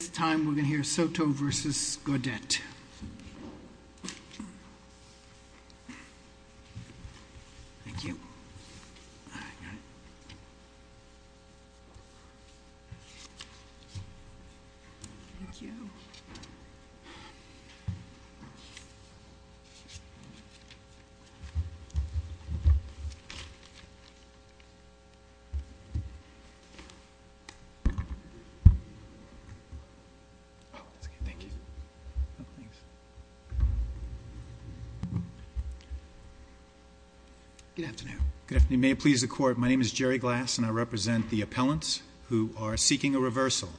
This time we're going to hear Soto v. Gaudett. Good afternoon. May it please the Court, my name is Jerry Glass and I represent the appellants who are seeking a reversal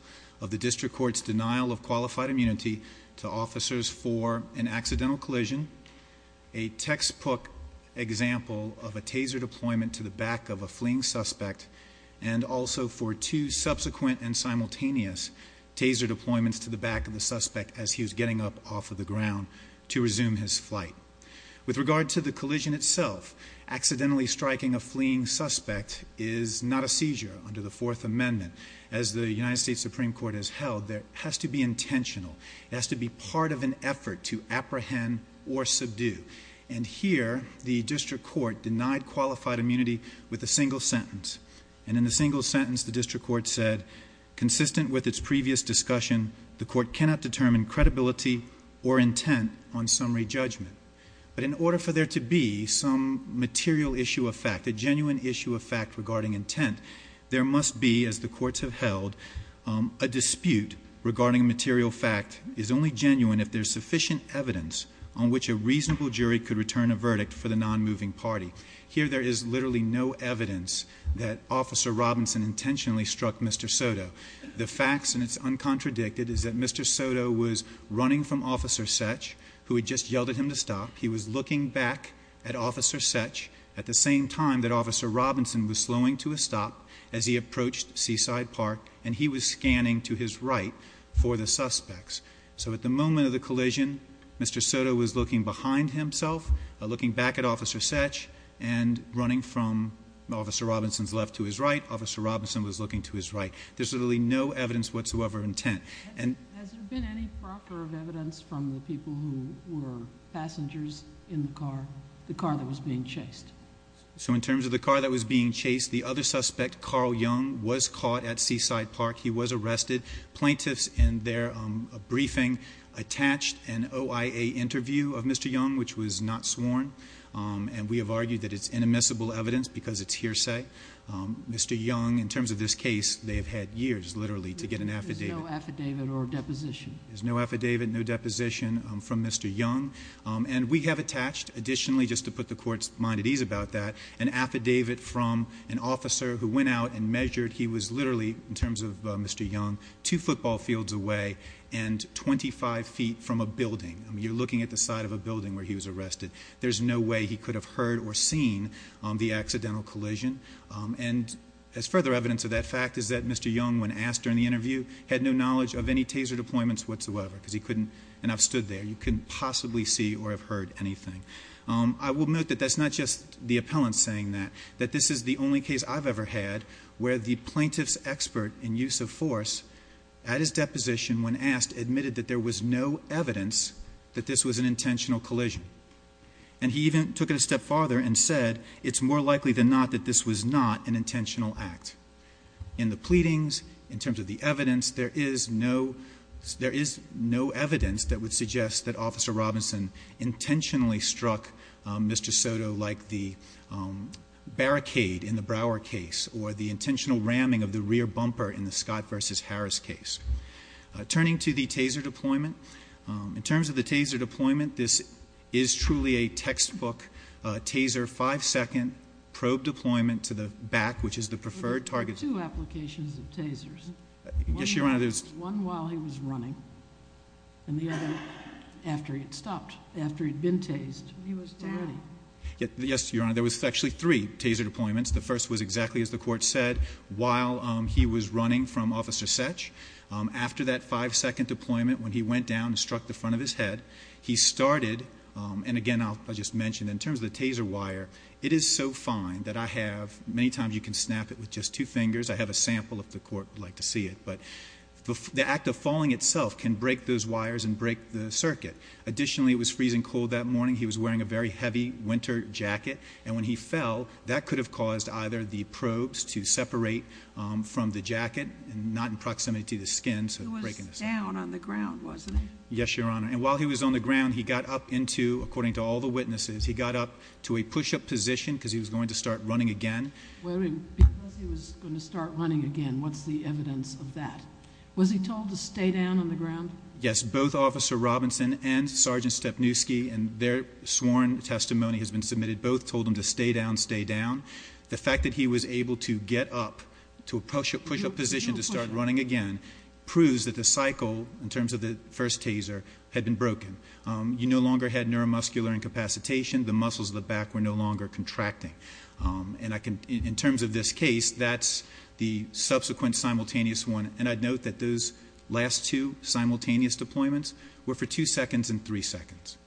of the District Court's denial of qualified immunity to officers for an accidental collision, a textbook example of a taser deployment to the back of a fleeing suspect and also for two subsequent and simultaneous taser deployments to the back of the suspect as he was getting up off of the ground to resume his flight. With regard to the collision itself, accidentally striking a fleeing suspect is not a seizure under the Fourth Amendment. As the United States Supreme Court has held, it has to be intentional. It has to be part of an effort to apprehend or subdue. And here, the District Court denied qualified immunity with a single sentence. And in the single sentence, the District Court said, consistent with its previous discussion, the Court cannot determine credibility or intent on summary judgment. But in order for there to be some material issue of fact, a genuine issue of fact regarding intent, there must be, as the courts have held, a dispute regarding material fact is only genuine if there's sufficient evidence on which a reasonable jury could find no evidence that Officer Robinson intentionally struck Mr. Soto. The facts, and it's uncontradicted, is that Mr. Soto was running from Officer Setch, who had just yelled at him to stop. He was looking back at Officer Setch at the same time that Officer Robinson was slowing to a stop as he approached Seaside Park, and he was scanning to his right for the suspects. So at the moment of the collision, Mr. Soto was looking behind himself, looking back at Officer Robinson's left to his right, Officer Robinson was looking to his right. There's really no evidence whatsoever of intent. Has there been any proctor of evidence from the people who were passengers in the car, the car that was being chased? So in terms of the car that was being chased, the other suspect, Carl Young, was caught at Seaside Park. He was arrested. Plaintiffs, in their briefing, attached an OIA interview of Mr. Young, which was not sworn, and we have argued that it's inadmissible evidence because it's hearsay. Mr. Young, in terms of this case, they have had years, literally, to get an affidavit. There's no affidavit or deposition? There's no affidavit, no deposition from Mr. Young. And we have attached, additionally, just to put the Court's mind at ease about that, an affidavit from an officer who went out and measured. He was literally, in terms of Mr. Young, two football fields away and 25 feet from a building. I mean, you're looking at the side of a building where he was arrested. There's no way he could have heard or seen the accidental collision. And as further evidence of that fact is that Mr. Young, when asked during the interview, had no knowledge of any taser deployments whatsoever because he couldn't, and I've stood there, he couldn't possibly see or have heard anything. I will note that that's not just the appellant saying that, that this is the only case I've ever had where the plaintiff's expert in use of force, at his deposition, when asked, admitted that there was no evidence that this was an intentional collision. And he even took it a step farther and said, it's more likely than not that this was not an intentional act. In the pleadings, in terms of the evidence, there is no evidence that would suggest that case or the intentional ramming of the rear bumper in the Scott v. Harris case. Turning to the taser deployment, in terms of the taser deployment, this is truly a textbook taser five-second probe deployment to the back, which is the preferred target. But there were two applications of tasers. Yes, Your Honor. One while he was running, and the other after he had stopped, after he had been tased, he was running. Yes, Your Honor. There was actually three taser deployments. The first was exactly as the Court said, while he was running from Officer Setch. After that five-second deployment, when he went down and struck the front of his head, he started, and again I'll just mention, in terms of the taser wire, it is so fine that I have, many times you can snap it with just two fingers, I have a sample if the Court would like to see it, but the act of falling itself can break those wires and break the circuit. Additionally, it was freezing cold that morning. He was wearing a very heavy winter jacket, and when he fell, that could have caused either the probes to separate from the jacket, not in proximity to the skin, so breaking the circuit. He was down on the ground, wasn't he? Yes, Your Honor. And while he was on the ground, he got up into, according to all the witnesses, he got up to a push-up position because he was going to start running again. Because he was going to start running again, what's the evidence of that? Was he told to stay down on the ground? Yes, both Officer Robinson and Sergeant Stepniewski, and their sworn testimony has been submitted, both told him to stay down, stay down. The fact that he was able to get up to a push-up position to start running again proves that the cycle, in terms of the first taser, had been broken. You no longer had neuromuscular incapacitation, the muscles of the back were no longer contracting. And in terms of this case, that's the subsequent simultaneous one, and I'd note that those last two simultaneous deployments were for 2 seconds and 3 seconds.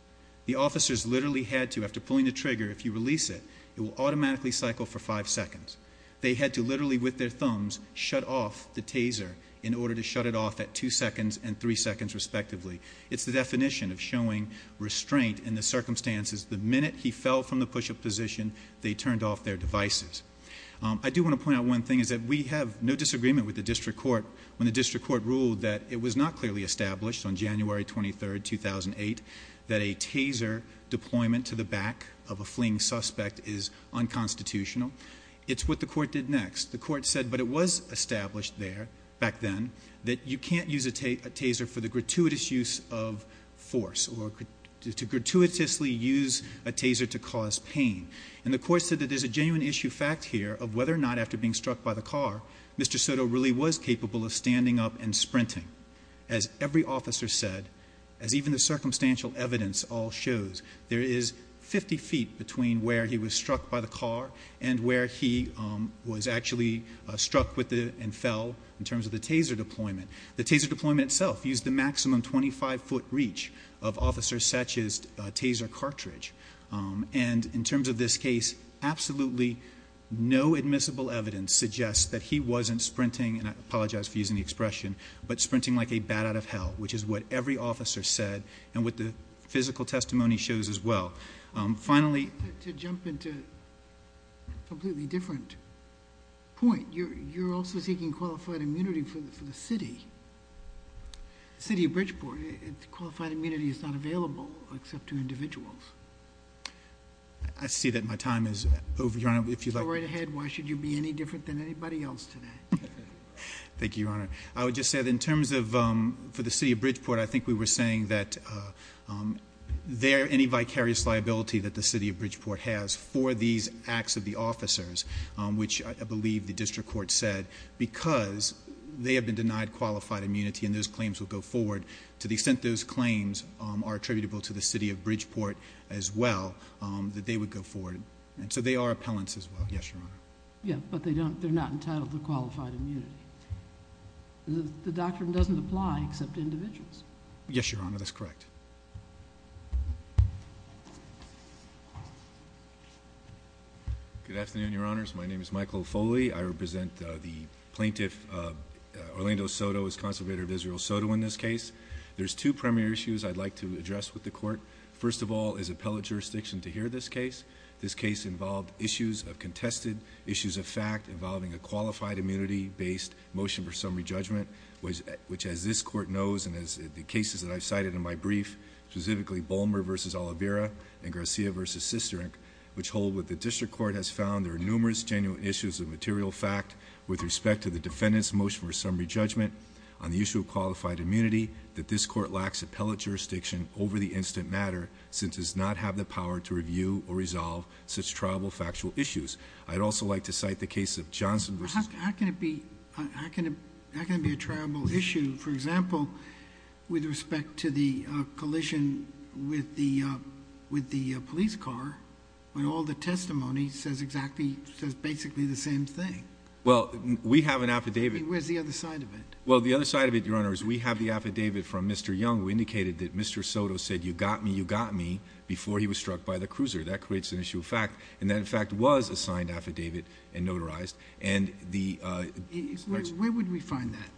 The officers literally had to, after pulling the trigger, if you release it, it will automatically cycle for 5 seconds. They had to literally, with their thumbs, shut off the taser in order to shut it off at 2 seconds and 3 seconds, respectively. It's the definition of showing restraint in the circumstances. The minute he fell from the push-up position, they turned off their devices. I do want to point out one thing, is that we have no disagreement with the District Court when the District Court ruled that it was not clearly established on January 23, 2008, that a taser deployment to the back of a fleeing suspect is unconstitutional. It's what the Court did next. The Court said, but it was established there, back then, that you can't use a taser for the gratuitous use of force, or to gratuitously use a taser to obstruct here, of whether or not, after being struck by the car, Mr. Soto really was capable of standing up and sprinting. As every officer said, as even the circumstantial evidence all shows, there is 50 feet between where he was struck by the car and where he was actually struck with it and fell, in terms of the taser deployment. The taser deployment itself used the maximum 25-foot reach of officers such as taser cartridge, and in terms of this case, absolutely no admissible evidence suggests that he wasn't sprinting, and I apologize for using the expression, but sprinting like a bat out of hell, which is what every officer said and what the physical testimony shows as well. Finally... To jump into a completely different point, you're also seeking qualified immunity for the city, the city of Bridgeport. Qualified immunity is not available, except to individuals. I see that my time is over, Your Honor. If you'd like... Go right ahead. Why should you be any different than anybody else today? Thank you, Your Honor. I would just say that in terms of, for the city of Bridgeport, I think we were saying that there, any vicarious liability that the city of Bridgeport has for these acts of the officers, which I believe the district court said, because they have been denied qualified immunity and those claims will go forward, to the extent those claims are attributable to the city of Bridgeport as well, that they would go forward. And so they are appellants as well. Yes, Your Honor. Yeah, but they don't, they're not entitled to qualified immunity. The doctrine doesn't apply except to individuals. Yes, Your Honor, that's correct. Good afternoon, Your Honors. My name is Michael Foley. I represent the plaintiff Orlando Soto as conservator of Israel Soto in this case. There's two primary issues I'd like to address with the court. First of all is appellate jurisdiction to hear this case. This case involved issues of contested, issues of fact involving a qualified immunity-based motion for summary judgment, which as this court knows and as the cases that I've cited in my brief, specifically Bolmer v. Oliveira and Garcia v. Sisterink, which hold what the district court has found, there are numerous genuine issues of material fact with respect to the defendant's motion for summary judgment on the issue of qualified immunity that this court lacks appellate jurisdiction over the instant matter since it does not have the power to review or resolve such triable factual issues. I'd also like to cite the case of Johnson v. How can it be a triable issue, for example, with respect to the collision with the police car when all the testimony says exactly, says basically the same thing? Well, we have an affidavit. Where's the other side of it? Well, the other side of it, Your Honor, is we have the affidavit from Mr. Young who indicated that Mr. Soto said, you got me, you got me, before he was struck by the cruiser. That creates an issue of fact. And that in fact was a signed affidavit and notarized. And the Where would we find that?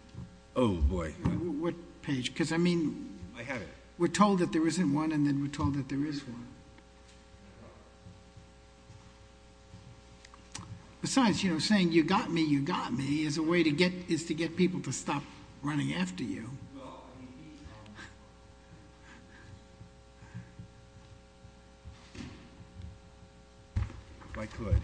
Oh, boy. On what page? Because I mean I have it. We're told that there isn't one and then we're told that there is one. Besides, you know, you're saying, you got me, you got me, is a way to get people to stop running after you. Well, I mean, these are If I could,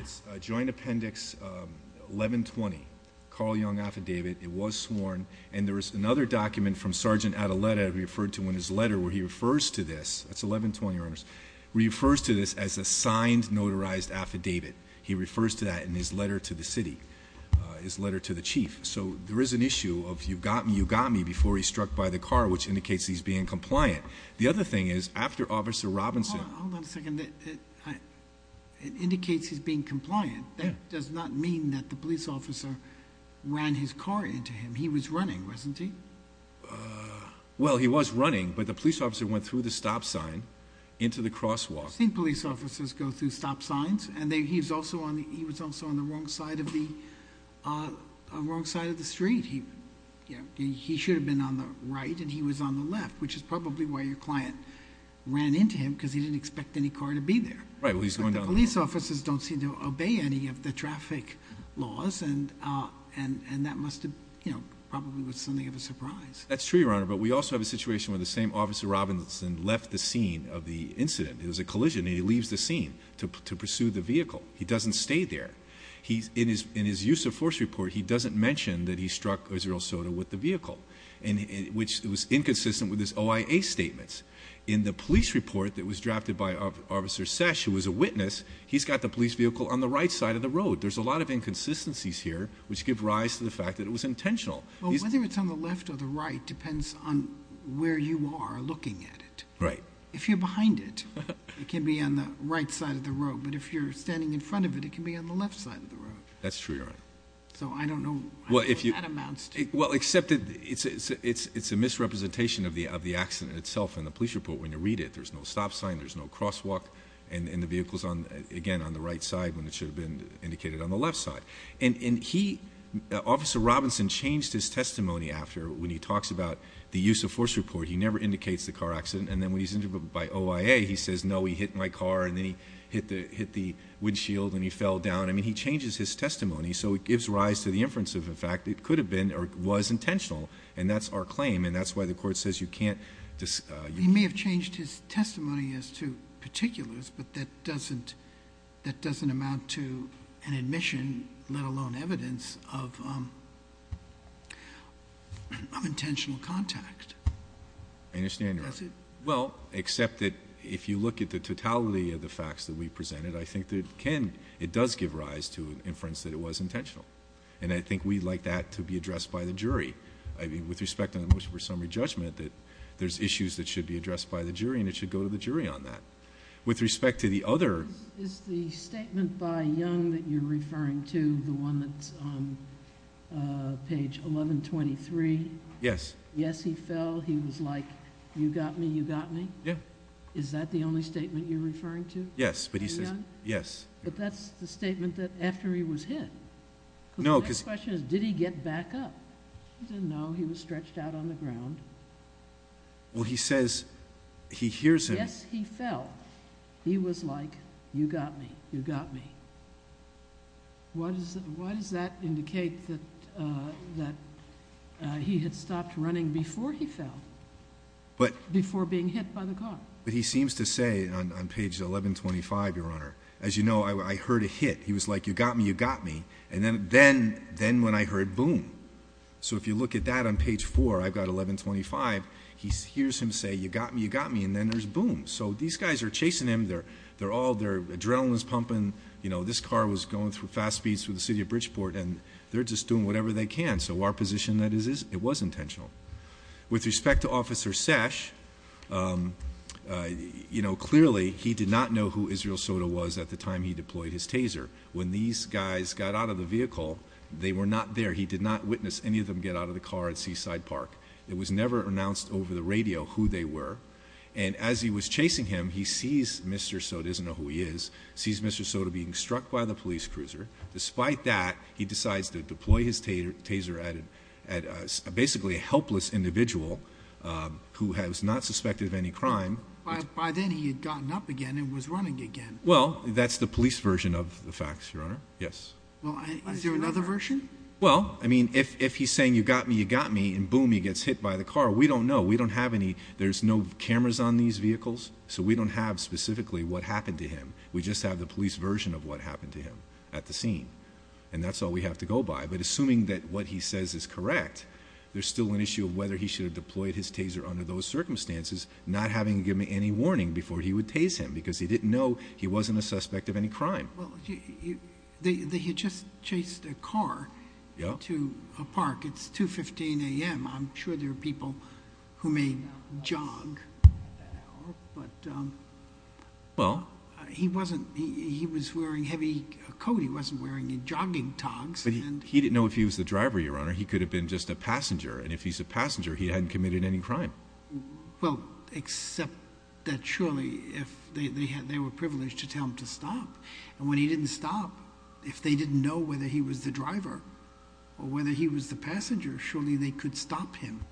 it's Joint Appendix 1120, Carl Young affidavit. It was sworn. And there was another document from Sergeant Adeletta referred to in his letter where he refers to this, that's 1120, Your Honors, refers to this as a signed, notarized affidavit. He refers to that in his letter to the city, his letter to the chief. So there is an issue of you got me, you got me, before he struck by the car, which indicates he's being compliant. The other thing is, after Officer Robinson Hold on a second. It indicates he's being compliant. That does not mean that the police officer ran his car into him. He was running, wasn't he? Well, he was running, but the police officer went through the stop sign into the crosswalk. I've seen police officers go through stop signs, and he was also on the wrong side of the street. He should have been on the right, and he was on the left, which is probably why your client ran into him, because he didn't expect any car to be there. Right, well, he's going down the road. But the police officers don't seem to obey any of the traffic laws, and that must have, you know, probably was something of a surprise. That's true, Your Honor, but we also have a situation where the same Officer Robinson left the scene of the incident. It was a collision, and he leaves the scene to pursue the vehicle. He doesn't stay there. In his use of force report, he doesn't mention that he struck Israel Soto with the vehicle, which was inconsistent with his OIA statements. In the police report that was drafted by Officer Sesh, who was a witness, he's got the police vehicle on the right side of the road. There's a lot of inconsistencies here, which give rise to the fact that it was intentional. Well, whether it's on the left or the right depends on where you are looking at it. Right. If you're behind it, it can be on the right side of the road, but if you're standing in front of it, it can be on the left side of the road. That's true, Your Honor. So, I don't know how that amounts to. Well, except that it's a misrepresentation of the accident itself in the police report when you read it. There's no stop sign, there's no crosswalk, and the vehicle's, again, on the right side when it should have been indicated on the left side. And he, Officer Robinson, changed his testimony after, when he talks about the use of force report. He never indicates the car accident, and then when he's interviewed by OIA, he says, no, he hit my car, and then he hit the windshield and he fell down. I mean, he changes his testimony, so it gives rise to the inference of the fact it could have been or was intentional, and that's our claim, and that's why the Court says you can't... He may have changed his testimony as to particulars, but that doesn't amount to an admission, let alone evidence, of intentional contact. I understand, Your Honor. Does it? Well, except that if you look at the totality of the facts that we presented, I think that it can... it does give rise to an inference that it was intentional, and I think we'd like that to be addressed by the jury. I mean, with respect to the motion for summary judgment, there's issues that should be addressed by the jury, and it should go to the jury on that. With respect to the other... Is the statement by Young that you're referring to, the one that's on page 1123... Yes. Yes, he fell. He was like, you got me, you got me? Yeah. Is that the only statement you're referring to? Yes, but he says... In Young? Yes. But that's the statement that after he was hit. No, because... Because the next question is, did he get back up? He didn't know. He was stretched out on the ground. Well, he says he hears him... You got me. You got me. Why does that indicate that he had stopped running before he fell? But... Before being hit by the car. But he seems to say on page 1125, Your Honor, as you know, I heard a hit. He was like, you got me, you got me? And then when I heard boom. So if you look at that on page 4, I've got 1125, he hears him say, you got me, you got me? And then there's boom. So these guys are chasing him. They're all... their adrenaline's pumping. You know, this car was going through fast speeds through the city of Bridgeport, and they're just doing whatever they can. So our position is that it was intentional. With respect to Officer Sesh, you know, clearly he did not know who Israel Soto was at the time he deployed his taser. When these guys got out of the vehicle, they were not there. He did not witness any of them get out of the car at Seaside Park. It was never announced over the radio who they were. And as he was chasing him, he sees Mr. Soto. He doesn't know who he is. He sees Mr. Soto being struck by the police cruiser. Despite that, he decides to deploy his taser at basically a helpless individual who was not suspected of any crime. By then, he had gotten up again and was running again. Well, that's the police version of the facts, Your Honor. Yes. Well, is there another version? Well, I mean, if he's saying, you got me, you got me? And boom, he gets hit by the car. We don't know. We don't have any. There's no cameras on these vehicles, so we don't have specifically what happened to him. We just have the police version of what happened to him at the scene. And that's all we have to go by. But assuming that what he says is correct, there's still an issue of whether he should have deployed his taser under those circumstances, not having given any warning before he would tase him because he didn't know he wasn't a suspect of any crime. Well, they had just chased a car to a park. It's 2.15 a.m. I'm sure there are people who may jog. He was wearing heavy coat. He wasn't wearing jogging togs. But he didn't know if he was the driver, Your Honor. He could have been just a passenger. And if he's a passenger, he hadn't committed any crime. Well, except that surely if they were privileged to tell him to stop. And when he didn't stop, if they didn't know whether he was the driver or whether he was the passenger, surely they could stop him.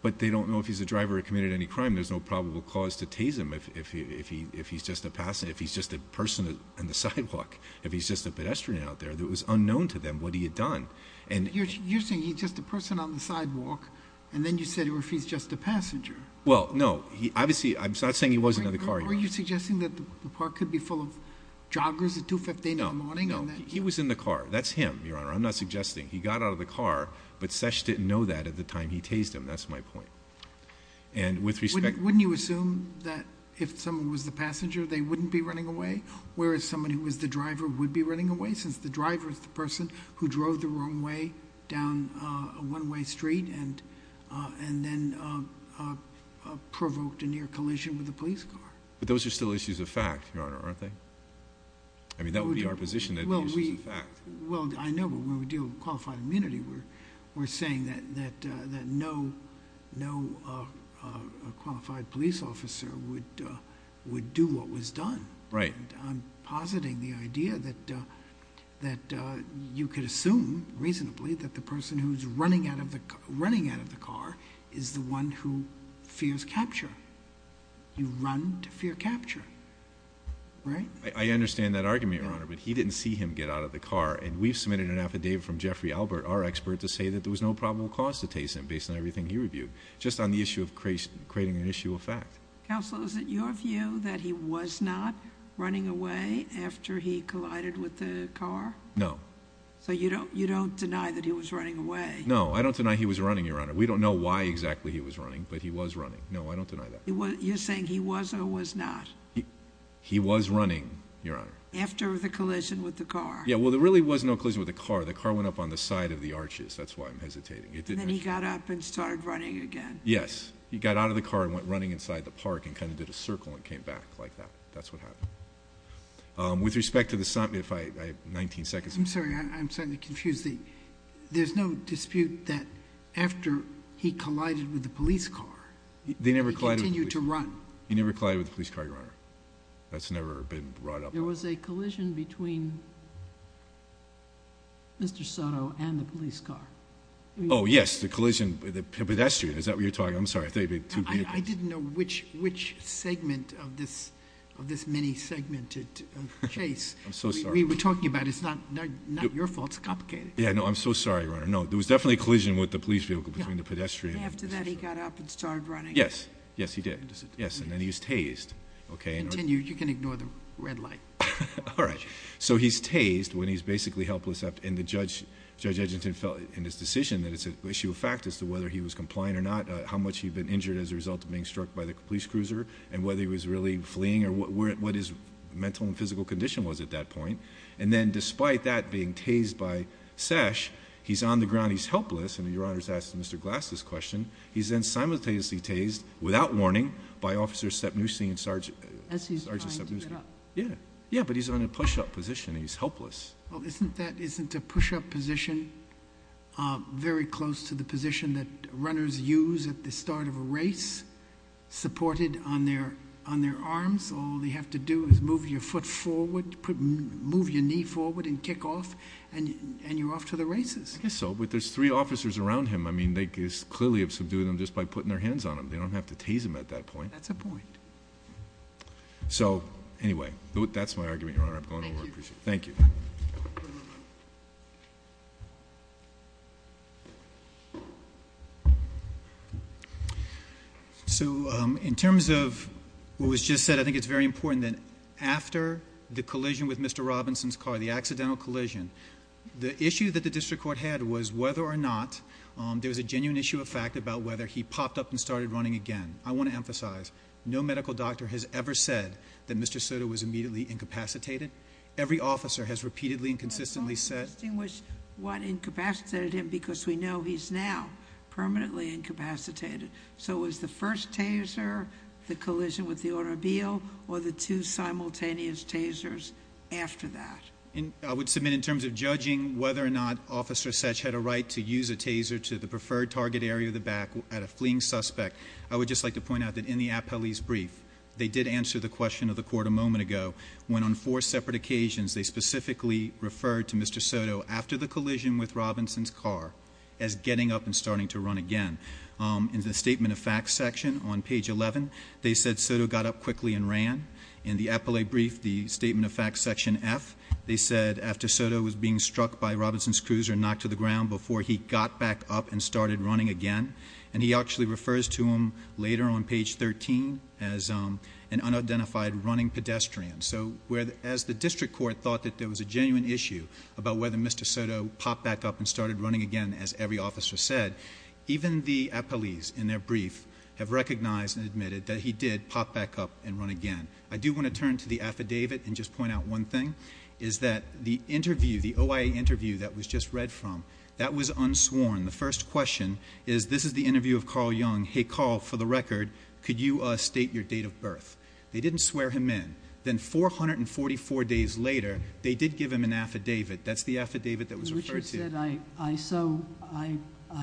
But they don't know if he's a driver or committed any crime. There's no probable cause to tase him if he's just a person on the sidewalk, if he's just a pedestrian out there. It was unknown to them what he had done. You're saying he's just a person on the sidewalk, and then you said if he's just a passenger. Well, no. I'm not saying he was in the car, Your Honor. Are you suggesting that the park could be full of joggers at 2.15 in the morning? No. He was in the car. That's him, Your Honor. I'm not suggesting. He got out of the car, but Sesh didn't know that at the time he tased him. That's my point. Wouldn't you assume that if someone was the passenger, they wouldn't be running away, whereas someone who was the driver would be running away since the driver is the person who drove the wrong way down a one-way street and then provoked a near collision with a police car? But those are still issues of fact, Your Honor, aren't they? I mean, that would be our position that the issue is a fact. Well, I know, but when we deal with qualified immunity, we're saying that no qualified police officer would do what was done. Right. I'm positing the idea that you could assume reasonably that the person who's running out of the car is the one who fears capture. You run to fear capture, right? I understand that argument, Your Honor, but he didn't see him get out of the car, and we've submitted an affidavit from Jeffrey Albert, our expert, to say that there was no probable cause to tase him based on everything he reviewed, just on the issue of creating an issue of fact. Counsel, is it your view that he was not running away after he collided with the car? No. So you don't deny that he was running away? No, I don't deny he was running, Your Honor. We don't know why exactly he was running, but he was running. No, I don't deny that. You're saying he was or was not? He was running, Your Honor. After the collision with the car? Yeah, well, there really was no collision with the car. The car went up on the side of the arches. That's why I'm hesitating. And then he got up and started running again? Yes. He got out of the car and went running inside the park and kind of did a circle and came back like that. That's what happened. With respect to the—if I have 19 seconds. I'm sorry. I'm starting to confuse the— There's no dispute that after he collided with the police car, he continued to run. He never collided with the police car, Your Honor. That's never been brought up. There was a collision between Mr. Soto and the police car. Oh, yes, the collision with the pedestrian. Is that what you're talking—I'm sorry. I didn't know which segment of this mini-segmented case we were talking about. It's not your fault. It's complicated. Yeah, no, I'm so sorry, Your Honor. No, there was definitely a collision with the police vehicle between the pedestrian and the pedestrian. And after that, he got up and started running? Yes. Yes, he did. Yes. And then he's tased. Continue. You can ignore the red light. All right. So he's tased when he's basically helpless. And Judge Edgerton felt in his decision that it's an issue of fact as to whether he was compliant or not, how much he'd been injured as a result of being struck by the police cruiser, and whether he was really fleeing or what his mental and physical condition was at that point. And then despite that being tased by Sesh, he's on the ground. He's helpless. And Your Honor has asked Mr. Glass this question. He's then simultaneously tased, without warning, by Officers Stepnushki and Sergeant— As he's trying to get up. Yeah. Yeah, but he's on a push-up position. He's helpless. Well, isn't a push-up position very close to the position that runners use at the start of a race? Supported on their arms, all they have to do is move your foot forward, move your knee forward and kick off, and you're off to the races. I guess so, but there's three officers around him. I mean, they clearly have subdued him just by putting their hands on him. They don't have to tase him at that point. That's a point. So, anyway, that's my argument, Your Honor. I'm going over. Thank you. Thank you. So in terms of what was just said, I think it's very important that after the collision with Mr. Robinson's car, the accidental collision, the issue that the district court had was whether or not there was a genuine issue of fact about whether he popped up and started running again. I want to emphasize, no medical doctor has ever said that Mr. Soto was immediately incapacitated. Every officer has repeatedly and consistently said- The most interesting was what incapacitated him because we know he's now permanently incapacitated. So it was the first taser, the collision with the automobile, or the two simultaneous tasers after that? I would submit in terms of judging whether or not Officer Setch had a right to use a taser to the preferred target area of the back at a fleeing suspect, I would just like to point out that in the appellee's brief, they did answer the question of the court a moment ago when on four separate occasions they specifically referred to Mr. Soto after the collision with Robinson's car as getting up and starting to run again. In the Statement of Facts section on page 11, they said Soto got up quickly and ran. In the appellee brief, the Statement of Facts section F, they said after Soto was being struck by Robinson's cruiser and knocked to the ground, before he got back up and started running again. And he actually refers to him later on page 13 as an unidentified running pedestrian. So as the district court thought that there was a genuine issue about whether Mr. Soto popped back up and started running again as every officer said, even the appellees in their brief have recognized and admitted that he did pop back up and run again. I do want to turn to the affidavit and just point out one thing, is that the interview, the OIA interview that was just read from, that was unsworn. The first question is, this is the interview of Carl Young. Hey, Carl, for the record, could you state your date of birth? They didn't swear him in. Then 444 days later, they did give him an affidavit. That's the affidavit that was referred to. Which is that I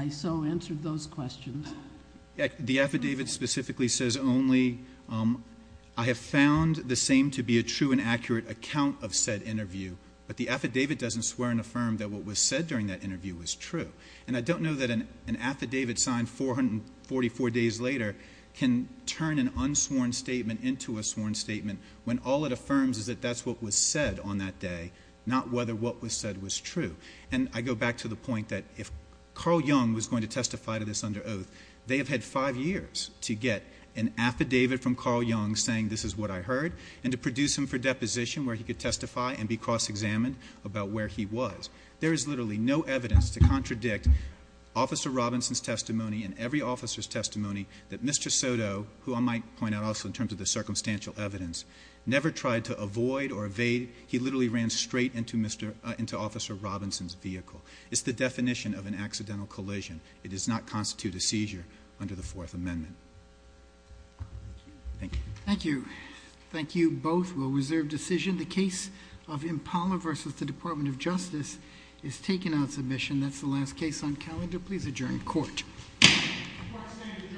so answered those questions. The affidavit specifically says only, I have found the same to be a true and accurate account of said interview, but the affidavit doesn't swear and affirm that what was said during that interview was true. And I don't know that an affidavit signed 444 days later can turn an unsworn statement into a sworn statement when all it affirms is that that's what was said on that day, not whether what was said was true. And I go back to the point that if Carl Young was going to testify to this under oath, they have had five years to get an affidavit from Carl Young saying this is what I heard and to produce him for deposition where he could testify and be cross-examined about where he was. There is literally no evidence to contradict Officer Robinson's testimony and every officer's testimony that Mr. Soto, who I might point out also in terms of the circumstantial evidence, never tried to avoid or evade. He literally ran straight into Officer Robinson's vehicle. It's the definition of an accidental collision. It does not constitute a seizure under the Fourth Amendment. Thank you. Thank you. Thank you both. We'll reserve decision. The case of Impala v. The Department of Justice is taken on submission. That's the last case on calendar. Please adjourn court. Court is adjourned.